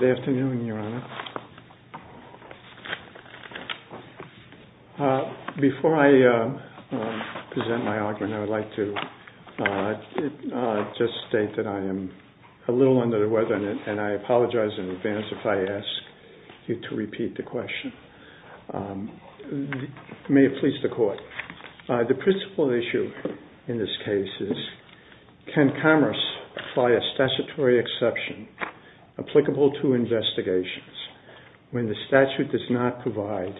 Good afternoon, Your Honor. Before I present my argument, I would like to just state that I am a little under the weather, and I apologize in advance if I ask you to repeat the question. May it please the Court. The principal issue in this case is, can Commerce apply a statutory exception applicable to investigations when the statute does not provide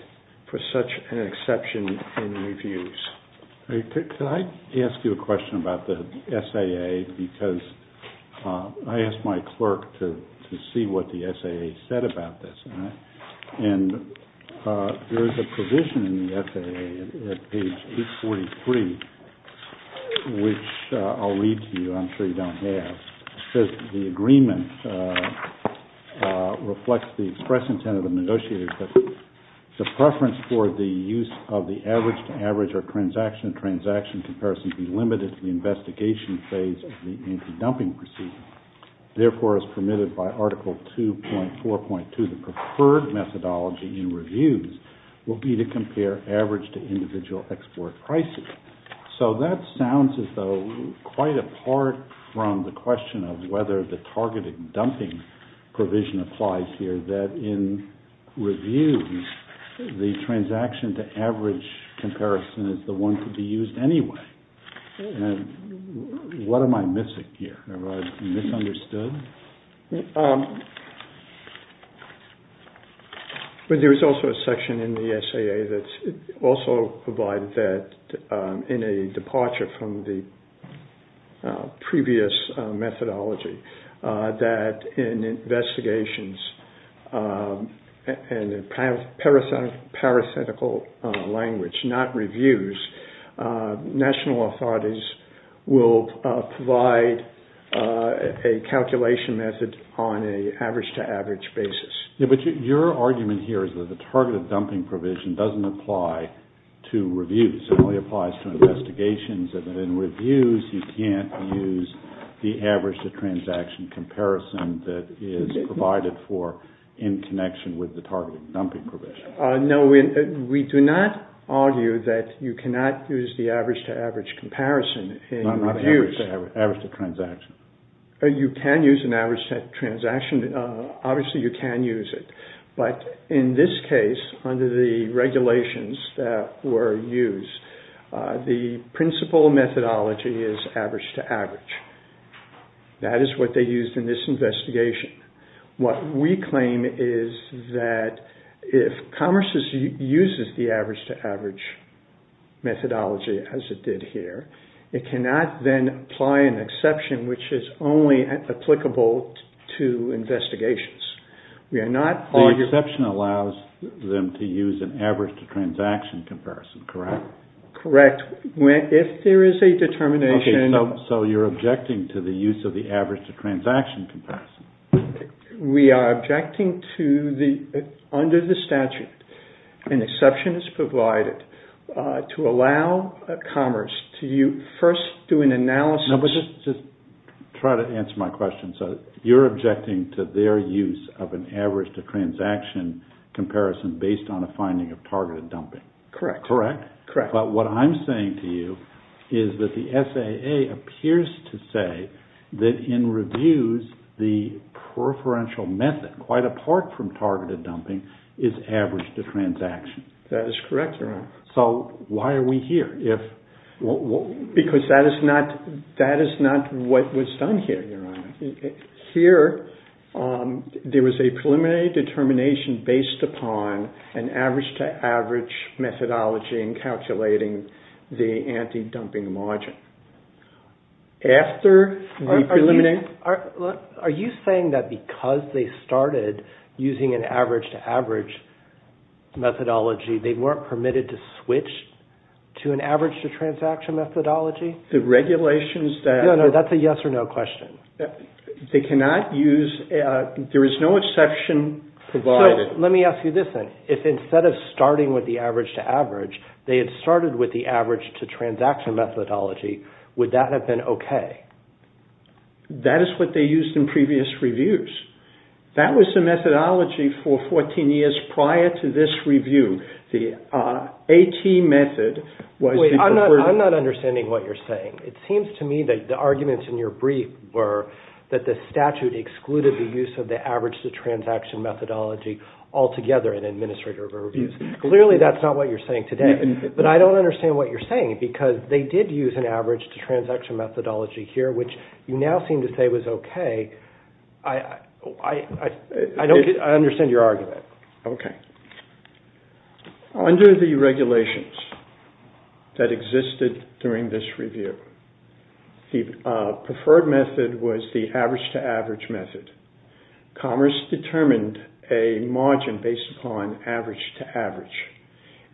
for such an exception in reviews? Could I ask you a question about the SAA? Because I asked my clerk to see what the SAA said about this, and there is a provision in the SAA at page 843, which I'll read to you. I'm sure you don't have. It says the agreement reflects the express intent of the negotiators that the preference for the use of the average-to-average or transaction-to-transaction comparison be limited to the investigation phase of the anti-dumping procedure. Therefore, as permitted by Article 2.4.2, the preferred methodology in reviews will be to compare average-to-individual export prices. So that sounds as though quite apart from the question of whether the targeted dumping provision applies here, that in reviews, the transaction-to-average comparison is the one to be used anyway. What am I missing here? Am I misunderstood? There was also a section in the SAA that also provided that, in a departure from the previous methodology, that in investigations, in a parasitical language, not reviews, national authorities will provide a calculation method on an average-to-average basis. But your argument here is that the targeted dumping provision doesn't apply to reviews. It only applies to investigations. In reviews, you can't use the average-to-transaction comparison that is provided for in connection with the targeted dumping provision. No, we do not argue that you cannot use the average-to-average comparison in reviews. Not average-to-transaction. You can use an average-to-transaction. Obviously, you can use it. But in this case, under the regulations that were used, the principal methodology is average-to-average. That is what they used in this investigation. What we claim is that if Commerce uses the average-to-average methodology, as it did here, it cannot then apply an exception, which is only applicable to investigations. We are not arguing... The exception allows them to use an average-to-transaction comparison, correct? Correct. If there is a determination... We are objecting to, under the statute, an exception is provided to allow Commerce to first do an analysis... Just try to answer my question. You're objecting to their use of an average-to-transaction comparison based on a finding of targeted dumping. Correct. But what I'm saying to you is that the SAA appears to say that in reviews, the preferential method, quite apart from targeted dumping, is average-to-transaction. That is correct, Your Honor. So, why are we here? Because that is not what was done here, Your Honor. Here, there was a preliminary determination based upon an average-to-average methodology in calculating the anti-dumping margin. After the preliminary... Are you saying that because they started using an average-to-average methodology, they weren't permitted to switch to an average-to-transaction methodology? The regulations that... No, no, that's a yes-or-no question. They cannot use... There is no exception provided. So, let me ask you this then. If instead of starting with the average-to-average, they had started with the average-to-transaction methodology, would that have been okay? That is what they used in previous reviews. That was the methodology for 14 years prior to this review. The AT method was the preferred... Wait, I'm not understanding what you're saying. It seems to me that the arguments in your brief were that the statute excluded the use of the average-to-transaction methodology altogether in administrative reviews. Clearly, that's not what you're saying today. But I don't understand what you're saying because they did use an average-to-transaction methodology here, which you now seem to say was okay. I don't get... I understand your argument. Okay. Under the regulations that existed during this review, the preferred method was the average-to-average method. Commerce determined a margin based upon average-to-average.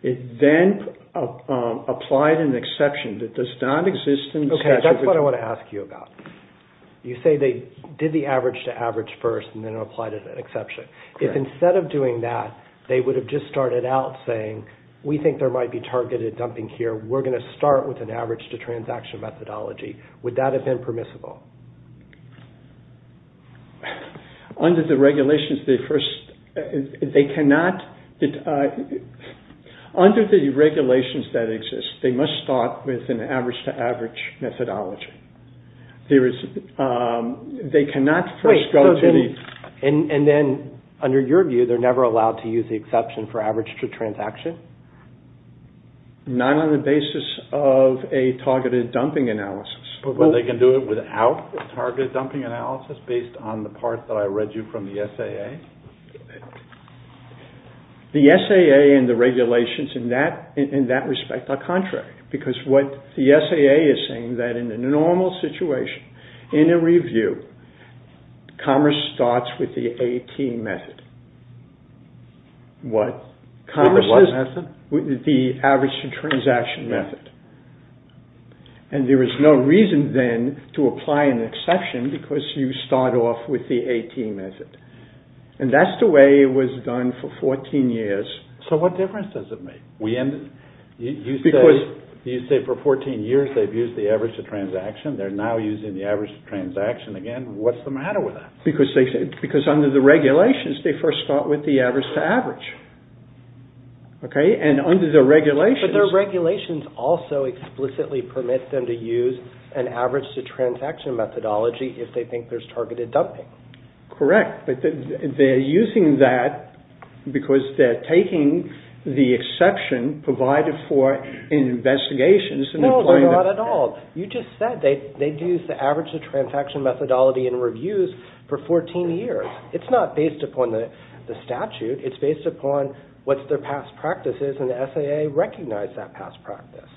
It then applied an exception that does not exist in the statute... Okay, that's what I want to ask you about. You say they did the average-to-average first and then applied an exception. If instead of doing that, they would have just started out saying, we think there might be targeted dumping here. We're going to start with an average-to-transaction methodology. Would that have been permissible? Under the regulations that exist, they must start with an average-to-average methodology. They cannot first go to the... And then, under your view, they're never allowed to use the exception for average-to-transaction? Not on the basis of a targeted dumping analysis. But they can do it without a targeted dumping analysis based on the part that I read you from the SAA? The SAA and the regulations in that respect are contrary. Because what the SAA is saying is that in a normal situation, in a review, commerce starts with the AT method. With the what method? The average-to-transaction method. And there is no reason then to apply an exception because you start off with the AT method. And that's the way it was done for 14 years. So what difference does it make? You say for 14 years they've used the average-to-transaction. They're now using the average-to-transaction again. What's the matter with that? Because under the regulations, they first start with the average-to-average. Okay? And under the regulations... But their regulations also explicitly permit them to use an average-to-transaction methodology if they think there's targeted dumping. Correct. But they're using that because they're taking the exception provided for in investigations. No, they're not at all. You just said they've used the average-to-transaction methodology in reviews for 14 years. It's not based upon the statute. It's based upon what their past practice is, and the SAA recognized that past practice.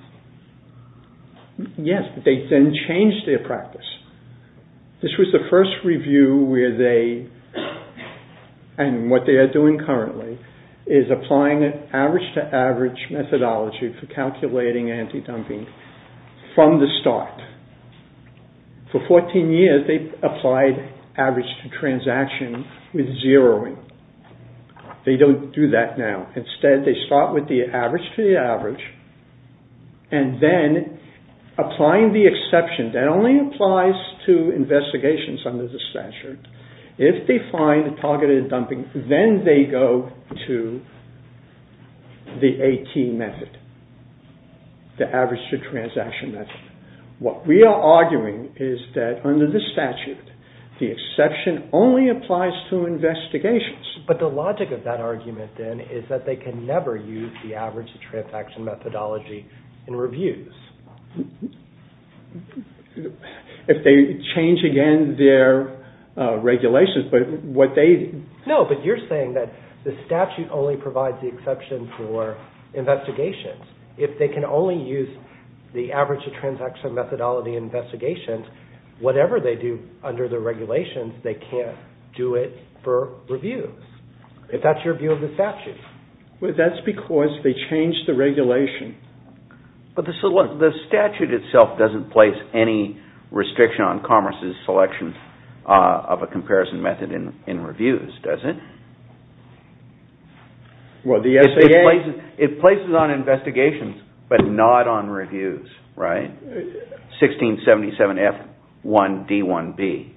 Yes, but they then changed their practice. This was the first review where they, and what they are doing currently, is applying an average-to-average methodology for calculating anti-dumping from the start. For 14 years, they applied average-to-transaction with zeroing. They don't do that now. Instead, they start with the average-to-average, and then applying the exception that only applies to investigations under the statute. If they find targeted dumping, then they go to the AT method, the average-to-transaction method. What we are arguing is that under the statute, the exception only applies to investigations. But the logic of that argument, then, is that they can never use the average-to-transaction methodology in reviews. If they change, again, their regulations, but what they... No, but you're saying that the statute only provides the exception for investigations. If they can only use the average-to-transaction methodology in investigations, and whatever they do under the regulations, they can't do it for reviews. If that's your view of the statute. Well, that's because they changed the regulation. But the statute itself doesn't place any restriction on Commerce's selection of a comparison method in reviews, does it? Well, the SAA... It places on investigations, but not on reviews, right? 1677F1D1B.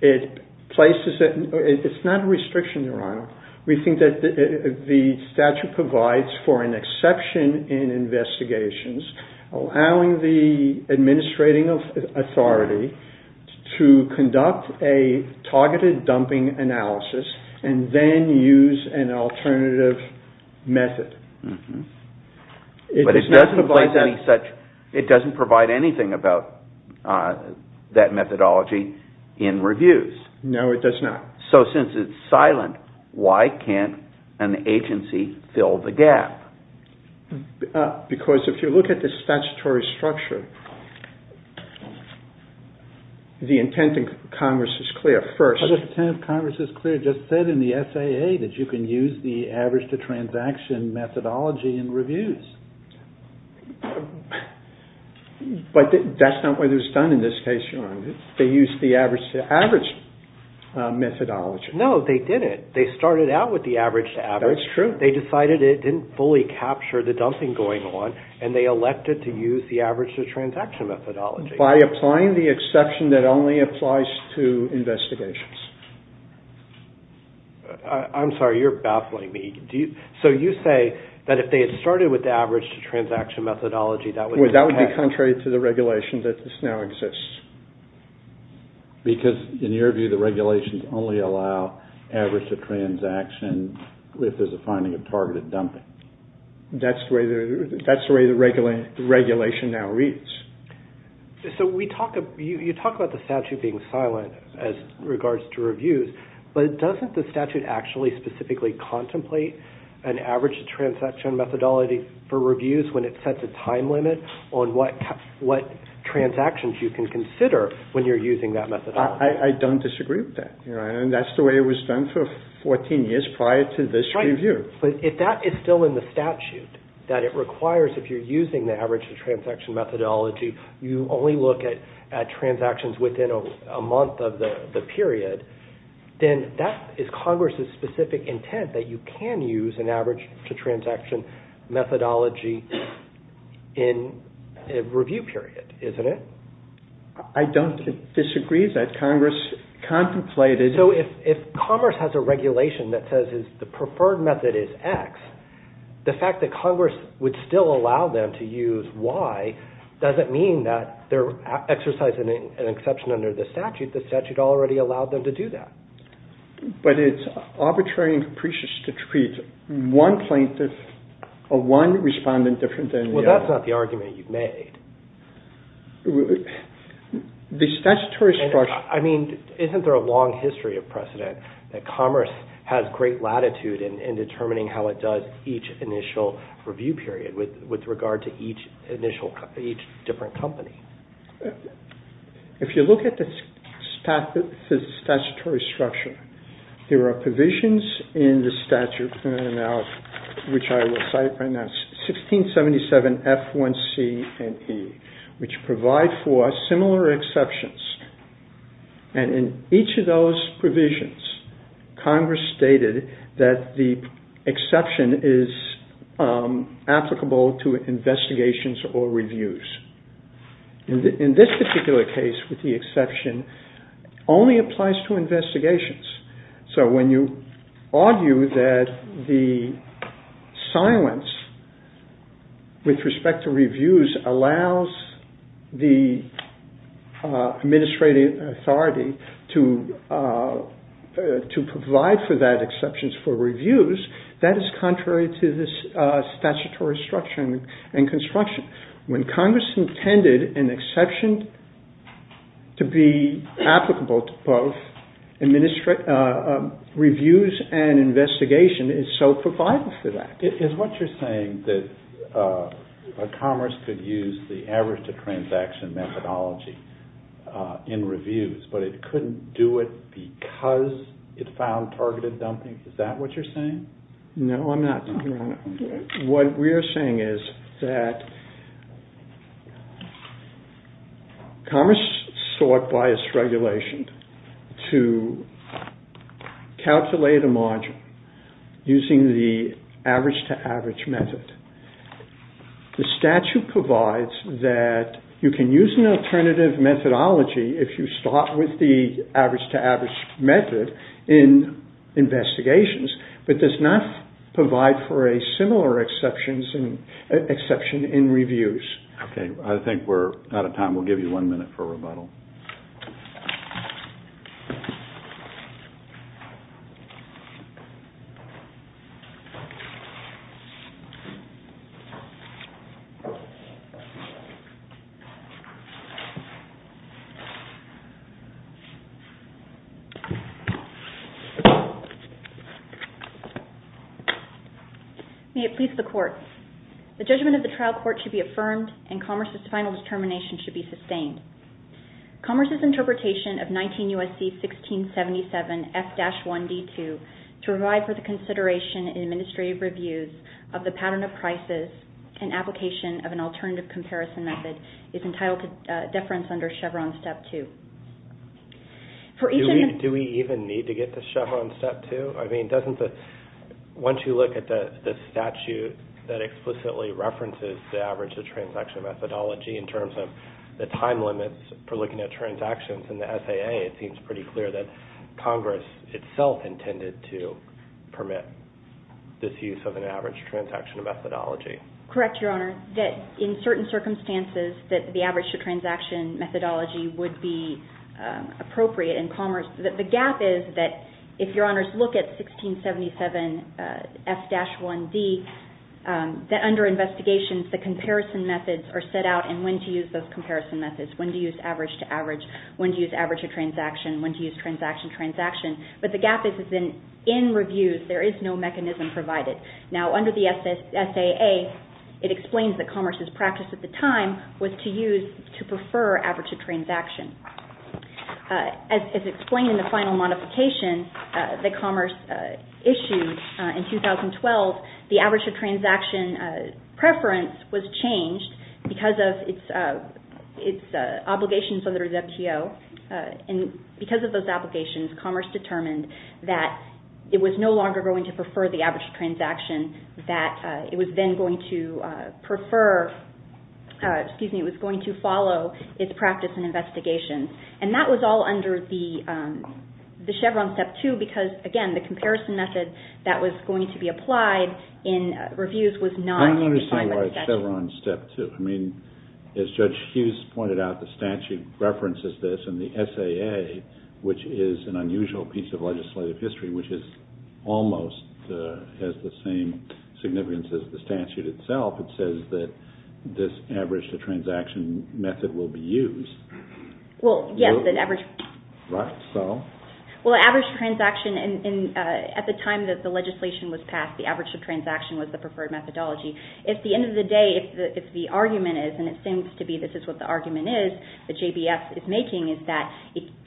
It places it... It's not a restriction, Your Honor. We think that the statute provides for an exception in investigations, allowing the administrating authority to conduct a targeted dumping analysis, and then use an alternative method. But it doesn't provide any such... It doesn't provide anything about that methodology in reviews. No, it does not. So, since it's silent, why can't an agency fill the gap? Because if you look at the statutory structure, the intent in Congress is clear. The intent of Congress is clear. It just said in the SAA that you can use the average-to-transaction methodology in reviews. But that's not what it was done in this case, Your Honor. They used the average-to-average methodology. No, they didn't. They started out with the average-to-average. That's true. They decided it didn't fully capture the dumping going on, and they elected to use the average-to-transaction methodology. By applying the exception that only applies to investigations. I'm sorry. You're baffling me. So you say that if they had started with the average-to-transaction methodology, that would... That would be contrary to the regulation that now exists. Because, in your view, the regulations only allow average-to-transaction if there's a finding of targeted dumping. That's the way the regulation now reads. So you talk about the statute being silent as regards to reviews, but doesn't the statute actually specifically contemplate an average-to-transaction methodology for reviews when it sets a time limit on what transactions you can consider when you're using that methodology? I don't disagree with that, Your Honor. And that's the way it was done for 14 years prior to this review. But if that is still in the statute, that it requires, if you're using the average-to-transaction methodology, you only look at transactions within a month of the period, then that is Congress's specific intent, that you can use an average-to-transaction methodology in a review period, isn't it? I don't disagree that Congress contemplated... So if Congress has a regulation that says the preferred method is X, the fact that Congress would still allow them to use Y doesn't mean that they're exercising an exception under the statute. The statute already allowed them to do that. But it's arbitrary and capricious to treat one plaintiff or one respondent different than the other. Well, that's not the argument you've made. The statutory structure... I mean, isn't there a long history of precedent that commerce has great latitude in determining how it does each initial review period with regard to each different company? If you look at the statutory structure, there are provisions in the statute, which I will cite right now, 1677 F1C and E, which provide for similar exceptions. And in each of those provisions, Congress stated that the exception is applicable to investigations or reviews. In this particular case, with the exception, only applies to investigations. So when you argue that the silence with respect to reviews allows the administrative authority to provide for that exception for reviews, that is contrary to this statutory structure and construction. When Congress intended an exception to be applicable to both reviews and investigation, it so provides for that. Is what you're saying that commerce could use the average-to-transaction methodology in reviews, but it couldn't do it because it found targeted dumping? Is that what you're saying? No, I'm not. What we're saying is that commerce sought by its regulation to calculate a margin using the average-to-average method. The statute provides that you can use an alternative methodology if you start with the average-to-average method in investigations, but does not provide for a similar exception in reviews. Okay, I think we're out of time. We'll give you one minute for rebuttal. The judgment of the trial court should be affirmed and commerce's final determination should be sustained. Commerce's interpretation of 19 U.S.C. 1677 F-1D2 to provide for the consideration in administrative reviews of the pattern of prices and application of an alternative comparison method is entitled to deference under Chevron Step 2. Do we even need to get to Chevron Step 2? Once you look at the statute that explicitly references the average-to-transaction methodology in terms of the time limits for looking at transactions in the SAA, it seems pretty clear that Congress itself intended to permit this use of an average-to-transaction methodology. Correct, Your Honor, that in certain circumstances that the average-to-transaction methodology would be appropriate in commerce. The gap is that if Your Honors look at 1677 F-1D, that under investigations the comparison methods are set out and when to use those comparison methods, when to use average-to-average, when to use average-to-transaction, when to use transaction-to-transaction, but the gap is that in reviews there is no mechanism provided. Now, under the SAA, it explains that commerce's practice at the time was to use, to prefer, average-to-transaction. As explained in the final modification that commerce issued in 2012, the average-to-transaction preference was changed because of its obligations under the WTO. And because of those obligations, commerce determined that it was no longer going to prefer the average-to-transaction, that it was then going to prefer, excuse me, it was going to follow its practice in investigations. And that was all under the Chevron Step 2 because, again, the comparison method that was going to be applied in reviews was not defined by the statute. I don't understand why it's Chevron Step 2. I mean, as Judge Hughes pointed out, the statute references this, and the SAA, which is an unusual piece of legislative history, which almost has the same significance as the statute itself, it says that this average-to-transaction method will be used. Well, yes, an average... Right, so? Well, average-to-transaction, at the time that the legislation was passed, the average-to-transaction was the preferred methodology. At the end of the day, if the argument is, and it seems to be this is what the argument is that JBS is making, is that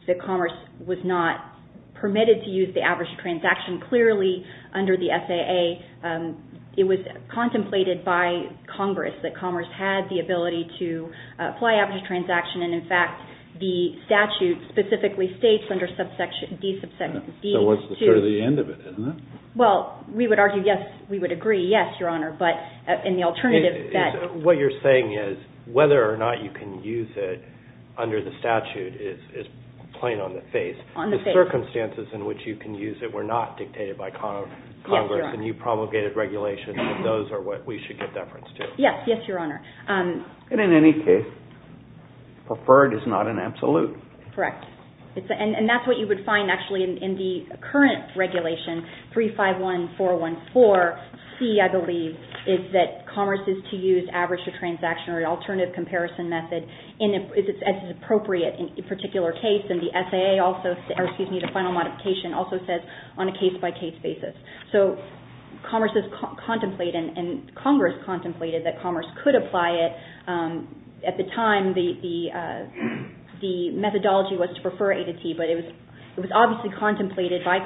the commerce was not permitted to use the average-to-transaction. Clearly, under the SAA, it was contemplated by Congress that commerce had the ability to apply average-to-transaction, and, in fact, the statute specifically states under D2... So what's sort of the end of it, isn't it? Well, we would argue, yes, we would agree, yes, Your Honor, but in the alternative that... What you're saying is whether or not you can use it under the statute is plain on the face. On the face. The circumstances in which you can use it were not dictated by Congress, and you promulgated regulation that those are what we should get deference to. Yes, yes, Your Honor. And, in any case, preferred is not an absolute. Correct. And that's what you would find, actually, in the current regulation, 351414C, I believe, is that commerce is to use average-to-transaction or an alternative comparison method as is appropriate in a particular case, and the final modification also says on a case-by-case basis. So commerce is contemplated, and Congress contemplated that commerce could apply it. At the time, the methodology was to prefer A to T, but it was obviously contemplated by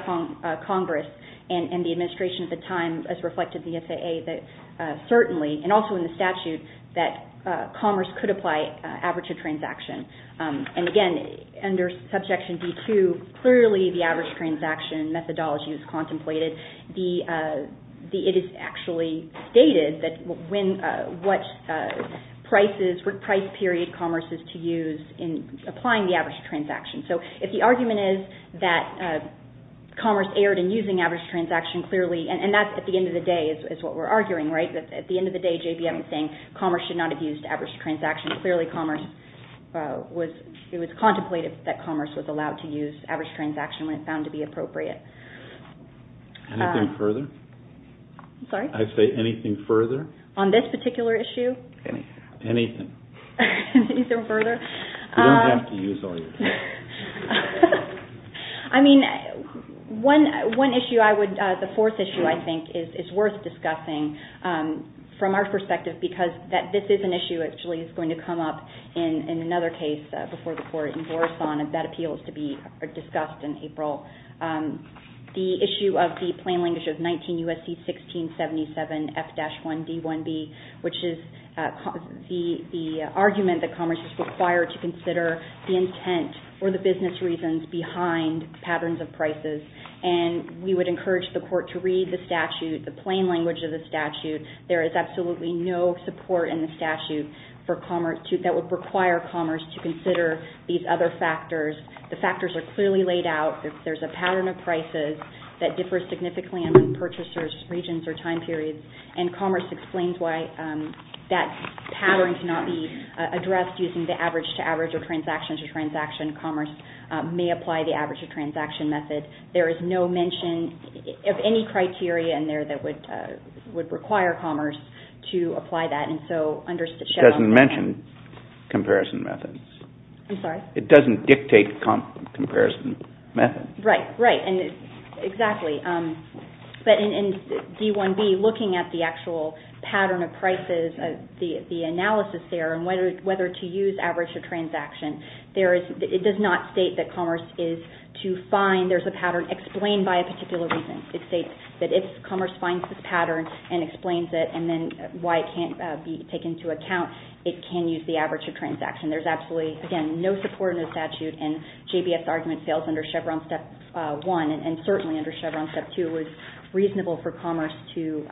Congress and the administration at the time, as reflected in the SAA, that certainly, and also in the statute, that commerce could apply average-to-transaction. And, again, under Subjection D-2, clearly the average-to-transaction methodology is contemplated. It is actually stated what price period commerce is to use in applying the average-to-transaction. So if the argument is that commerce erred in using average-to-transaction, clearly, and that's, at the end of the day, is what we're arguing, right? At the end of the day, JBM is saying commerce should not have used average-to-transaction. Clearly, commerce was contemplated, that commerce was allowed to use average-to-transaction when it found to be appropriate. Anything further? I'm sorry? I say anything further? On this particular issue? Anything. Anything. Anything further? You don't have to use all your time. I mean, one issue I would, the fourth issue, I think, is worth discussing from our perspective because this is an issue that actually is going to come up in another case before the Court in Borison, and that appeals to be discussed in April. The issue of the plain language of 19 U.S.C. 1677 F-1 D-1B, which is the argument that commerce is required to consider the intent or the business reasons behind patterns of prices, and we would encourage the Court to read the statute, the plain language of the statute. There is absolutely no support in the statute that would require commerce to consider these other factors. The factors are clearly laid out. There's a pattern of prices that differs significantly among purchasers' regions or time periods, and commerce explains why that pattern cannot be addressed using the average-to-average or transaction-to-transaction. Commerce may apply the average-to-transaction method. There is no mention of any criteria in there that would require commerce to apply that. It doesn't mention comparison methods. I'm sorry? It doesn't dictate comparison methods. Right, right, exactly. But in D-1B, looking at the actual pattern of prices, the analysis there and whether to use average or transaction, it does not state that commerce is to find. There's a pattern explained by a particular reason. It states that if commerce finds this pattern and explains it and then why it can't be taken into account, it can use the average-to-transaction. There's absolutely, again, no support in the statute, and J.B.F.'s argument fails under Chevron Step 1, and certainly under Chevron Step 2, it was reasonable for commerce to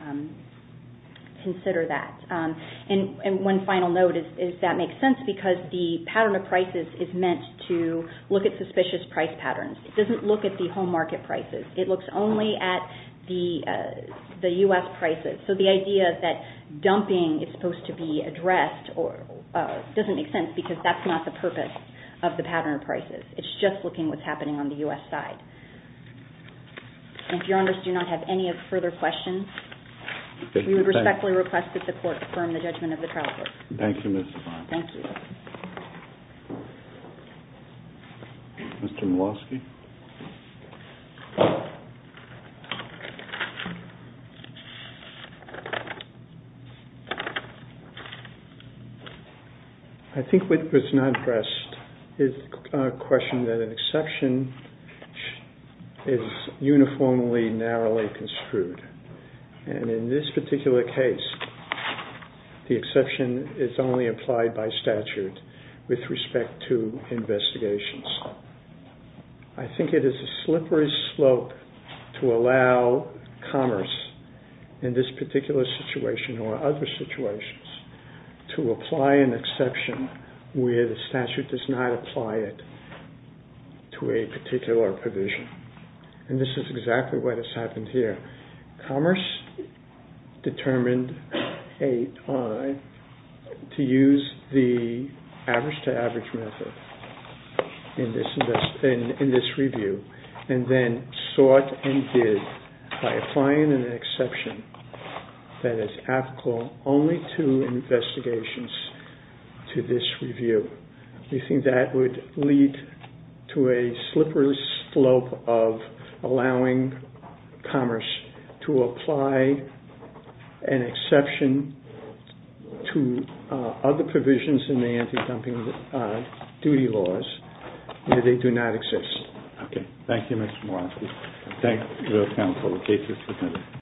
consider that. And one final note is that makes sense because the pattern of prices is meant to look at suspicious price patterns. It doesn't look at the home market prices. It looks only at the U.S. prices. So the idea that dumping is supposed to be addressed doesn't make sense because that's not the purpose of the pattern of prices. It's just looking at what's happening on the U.S. side. And if your Honors do not have any further questions, we would respectfully request that the Court affirm the judgment of the trial court. Thank you, Ms. Saban. Thank you. Mr. Miloski? I think what's not addressed is a question that an exception is uniformly, narrowly construed. And in this particular case, the exception is only applied by statute with respect to investigations. I think it is a slippery slope to allow commerce in this particular situation or other situations to apply an exception where the statute does not apply it to a particular provision. And this is exactly what has happened here. Commerce determined a time to use the average-to-average method in this review and then sought and did by applying an exception that is applicable only to investigations to this review. We think that would lead to a slippery slope of allowing commerce to apply an exception to other provisions in the anti-dumping duty laws where they do not exist. Okay. Thank you, Mr. Miloski. Thank you, Your Honor, for the case.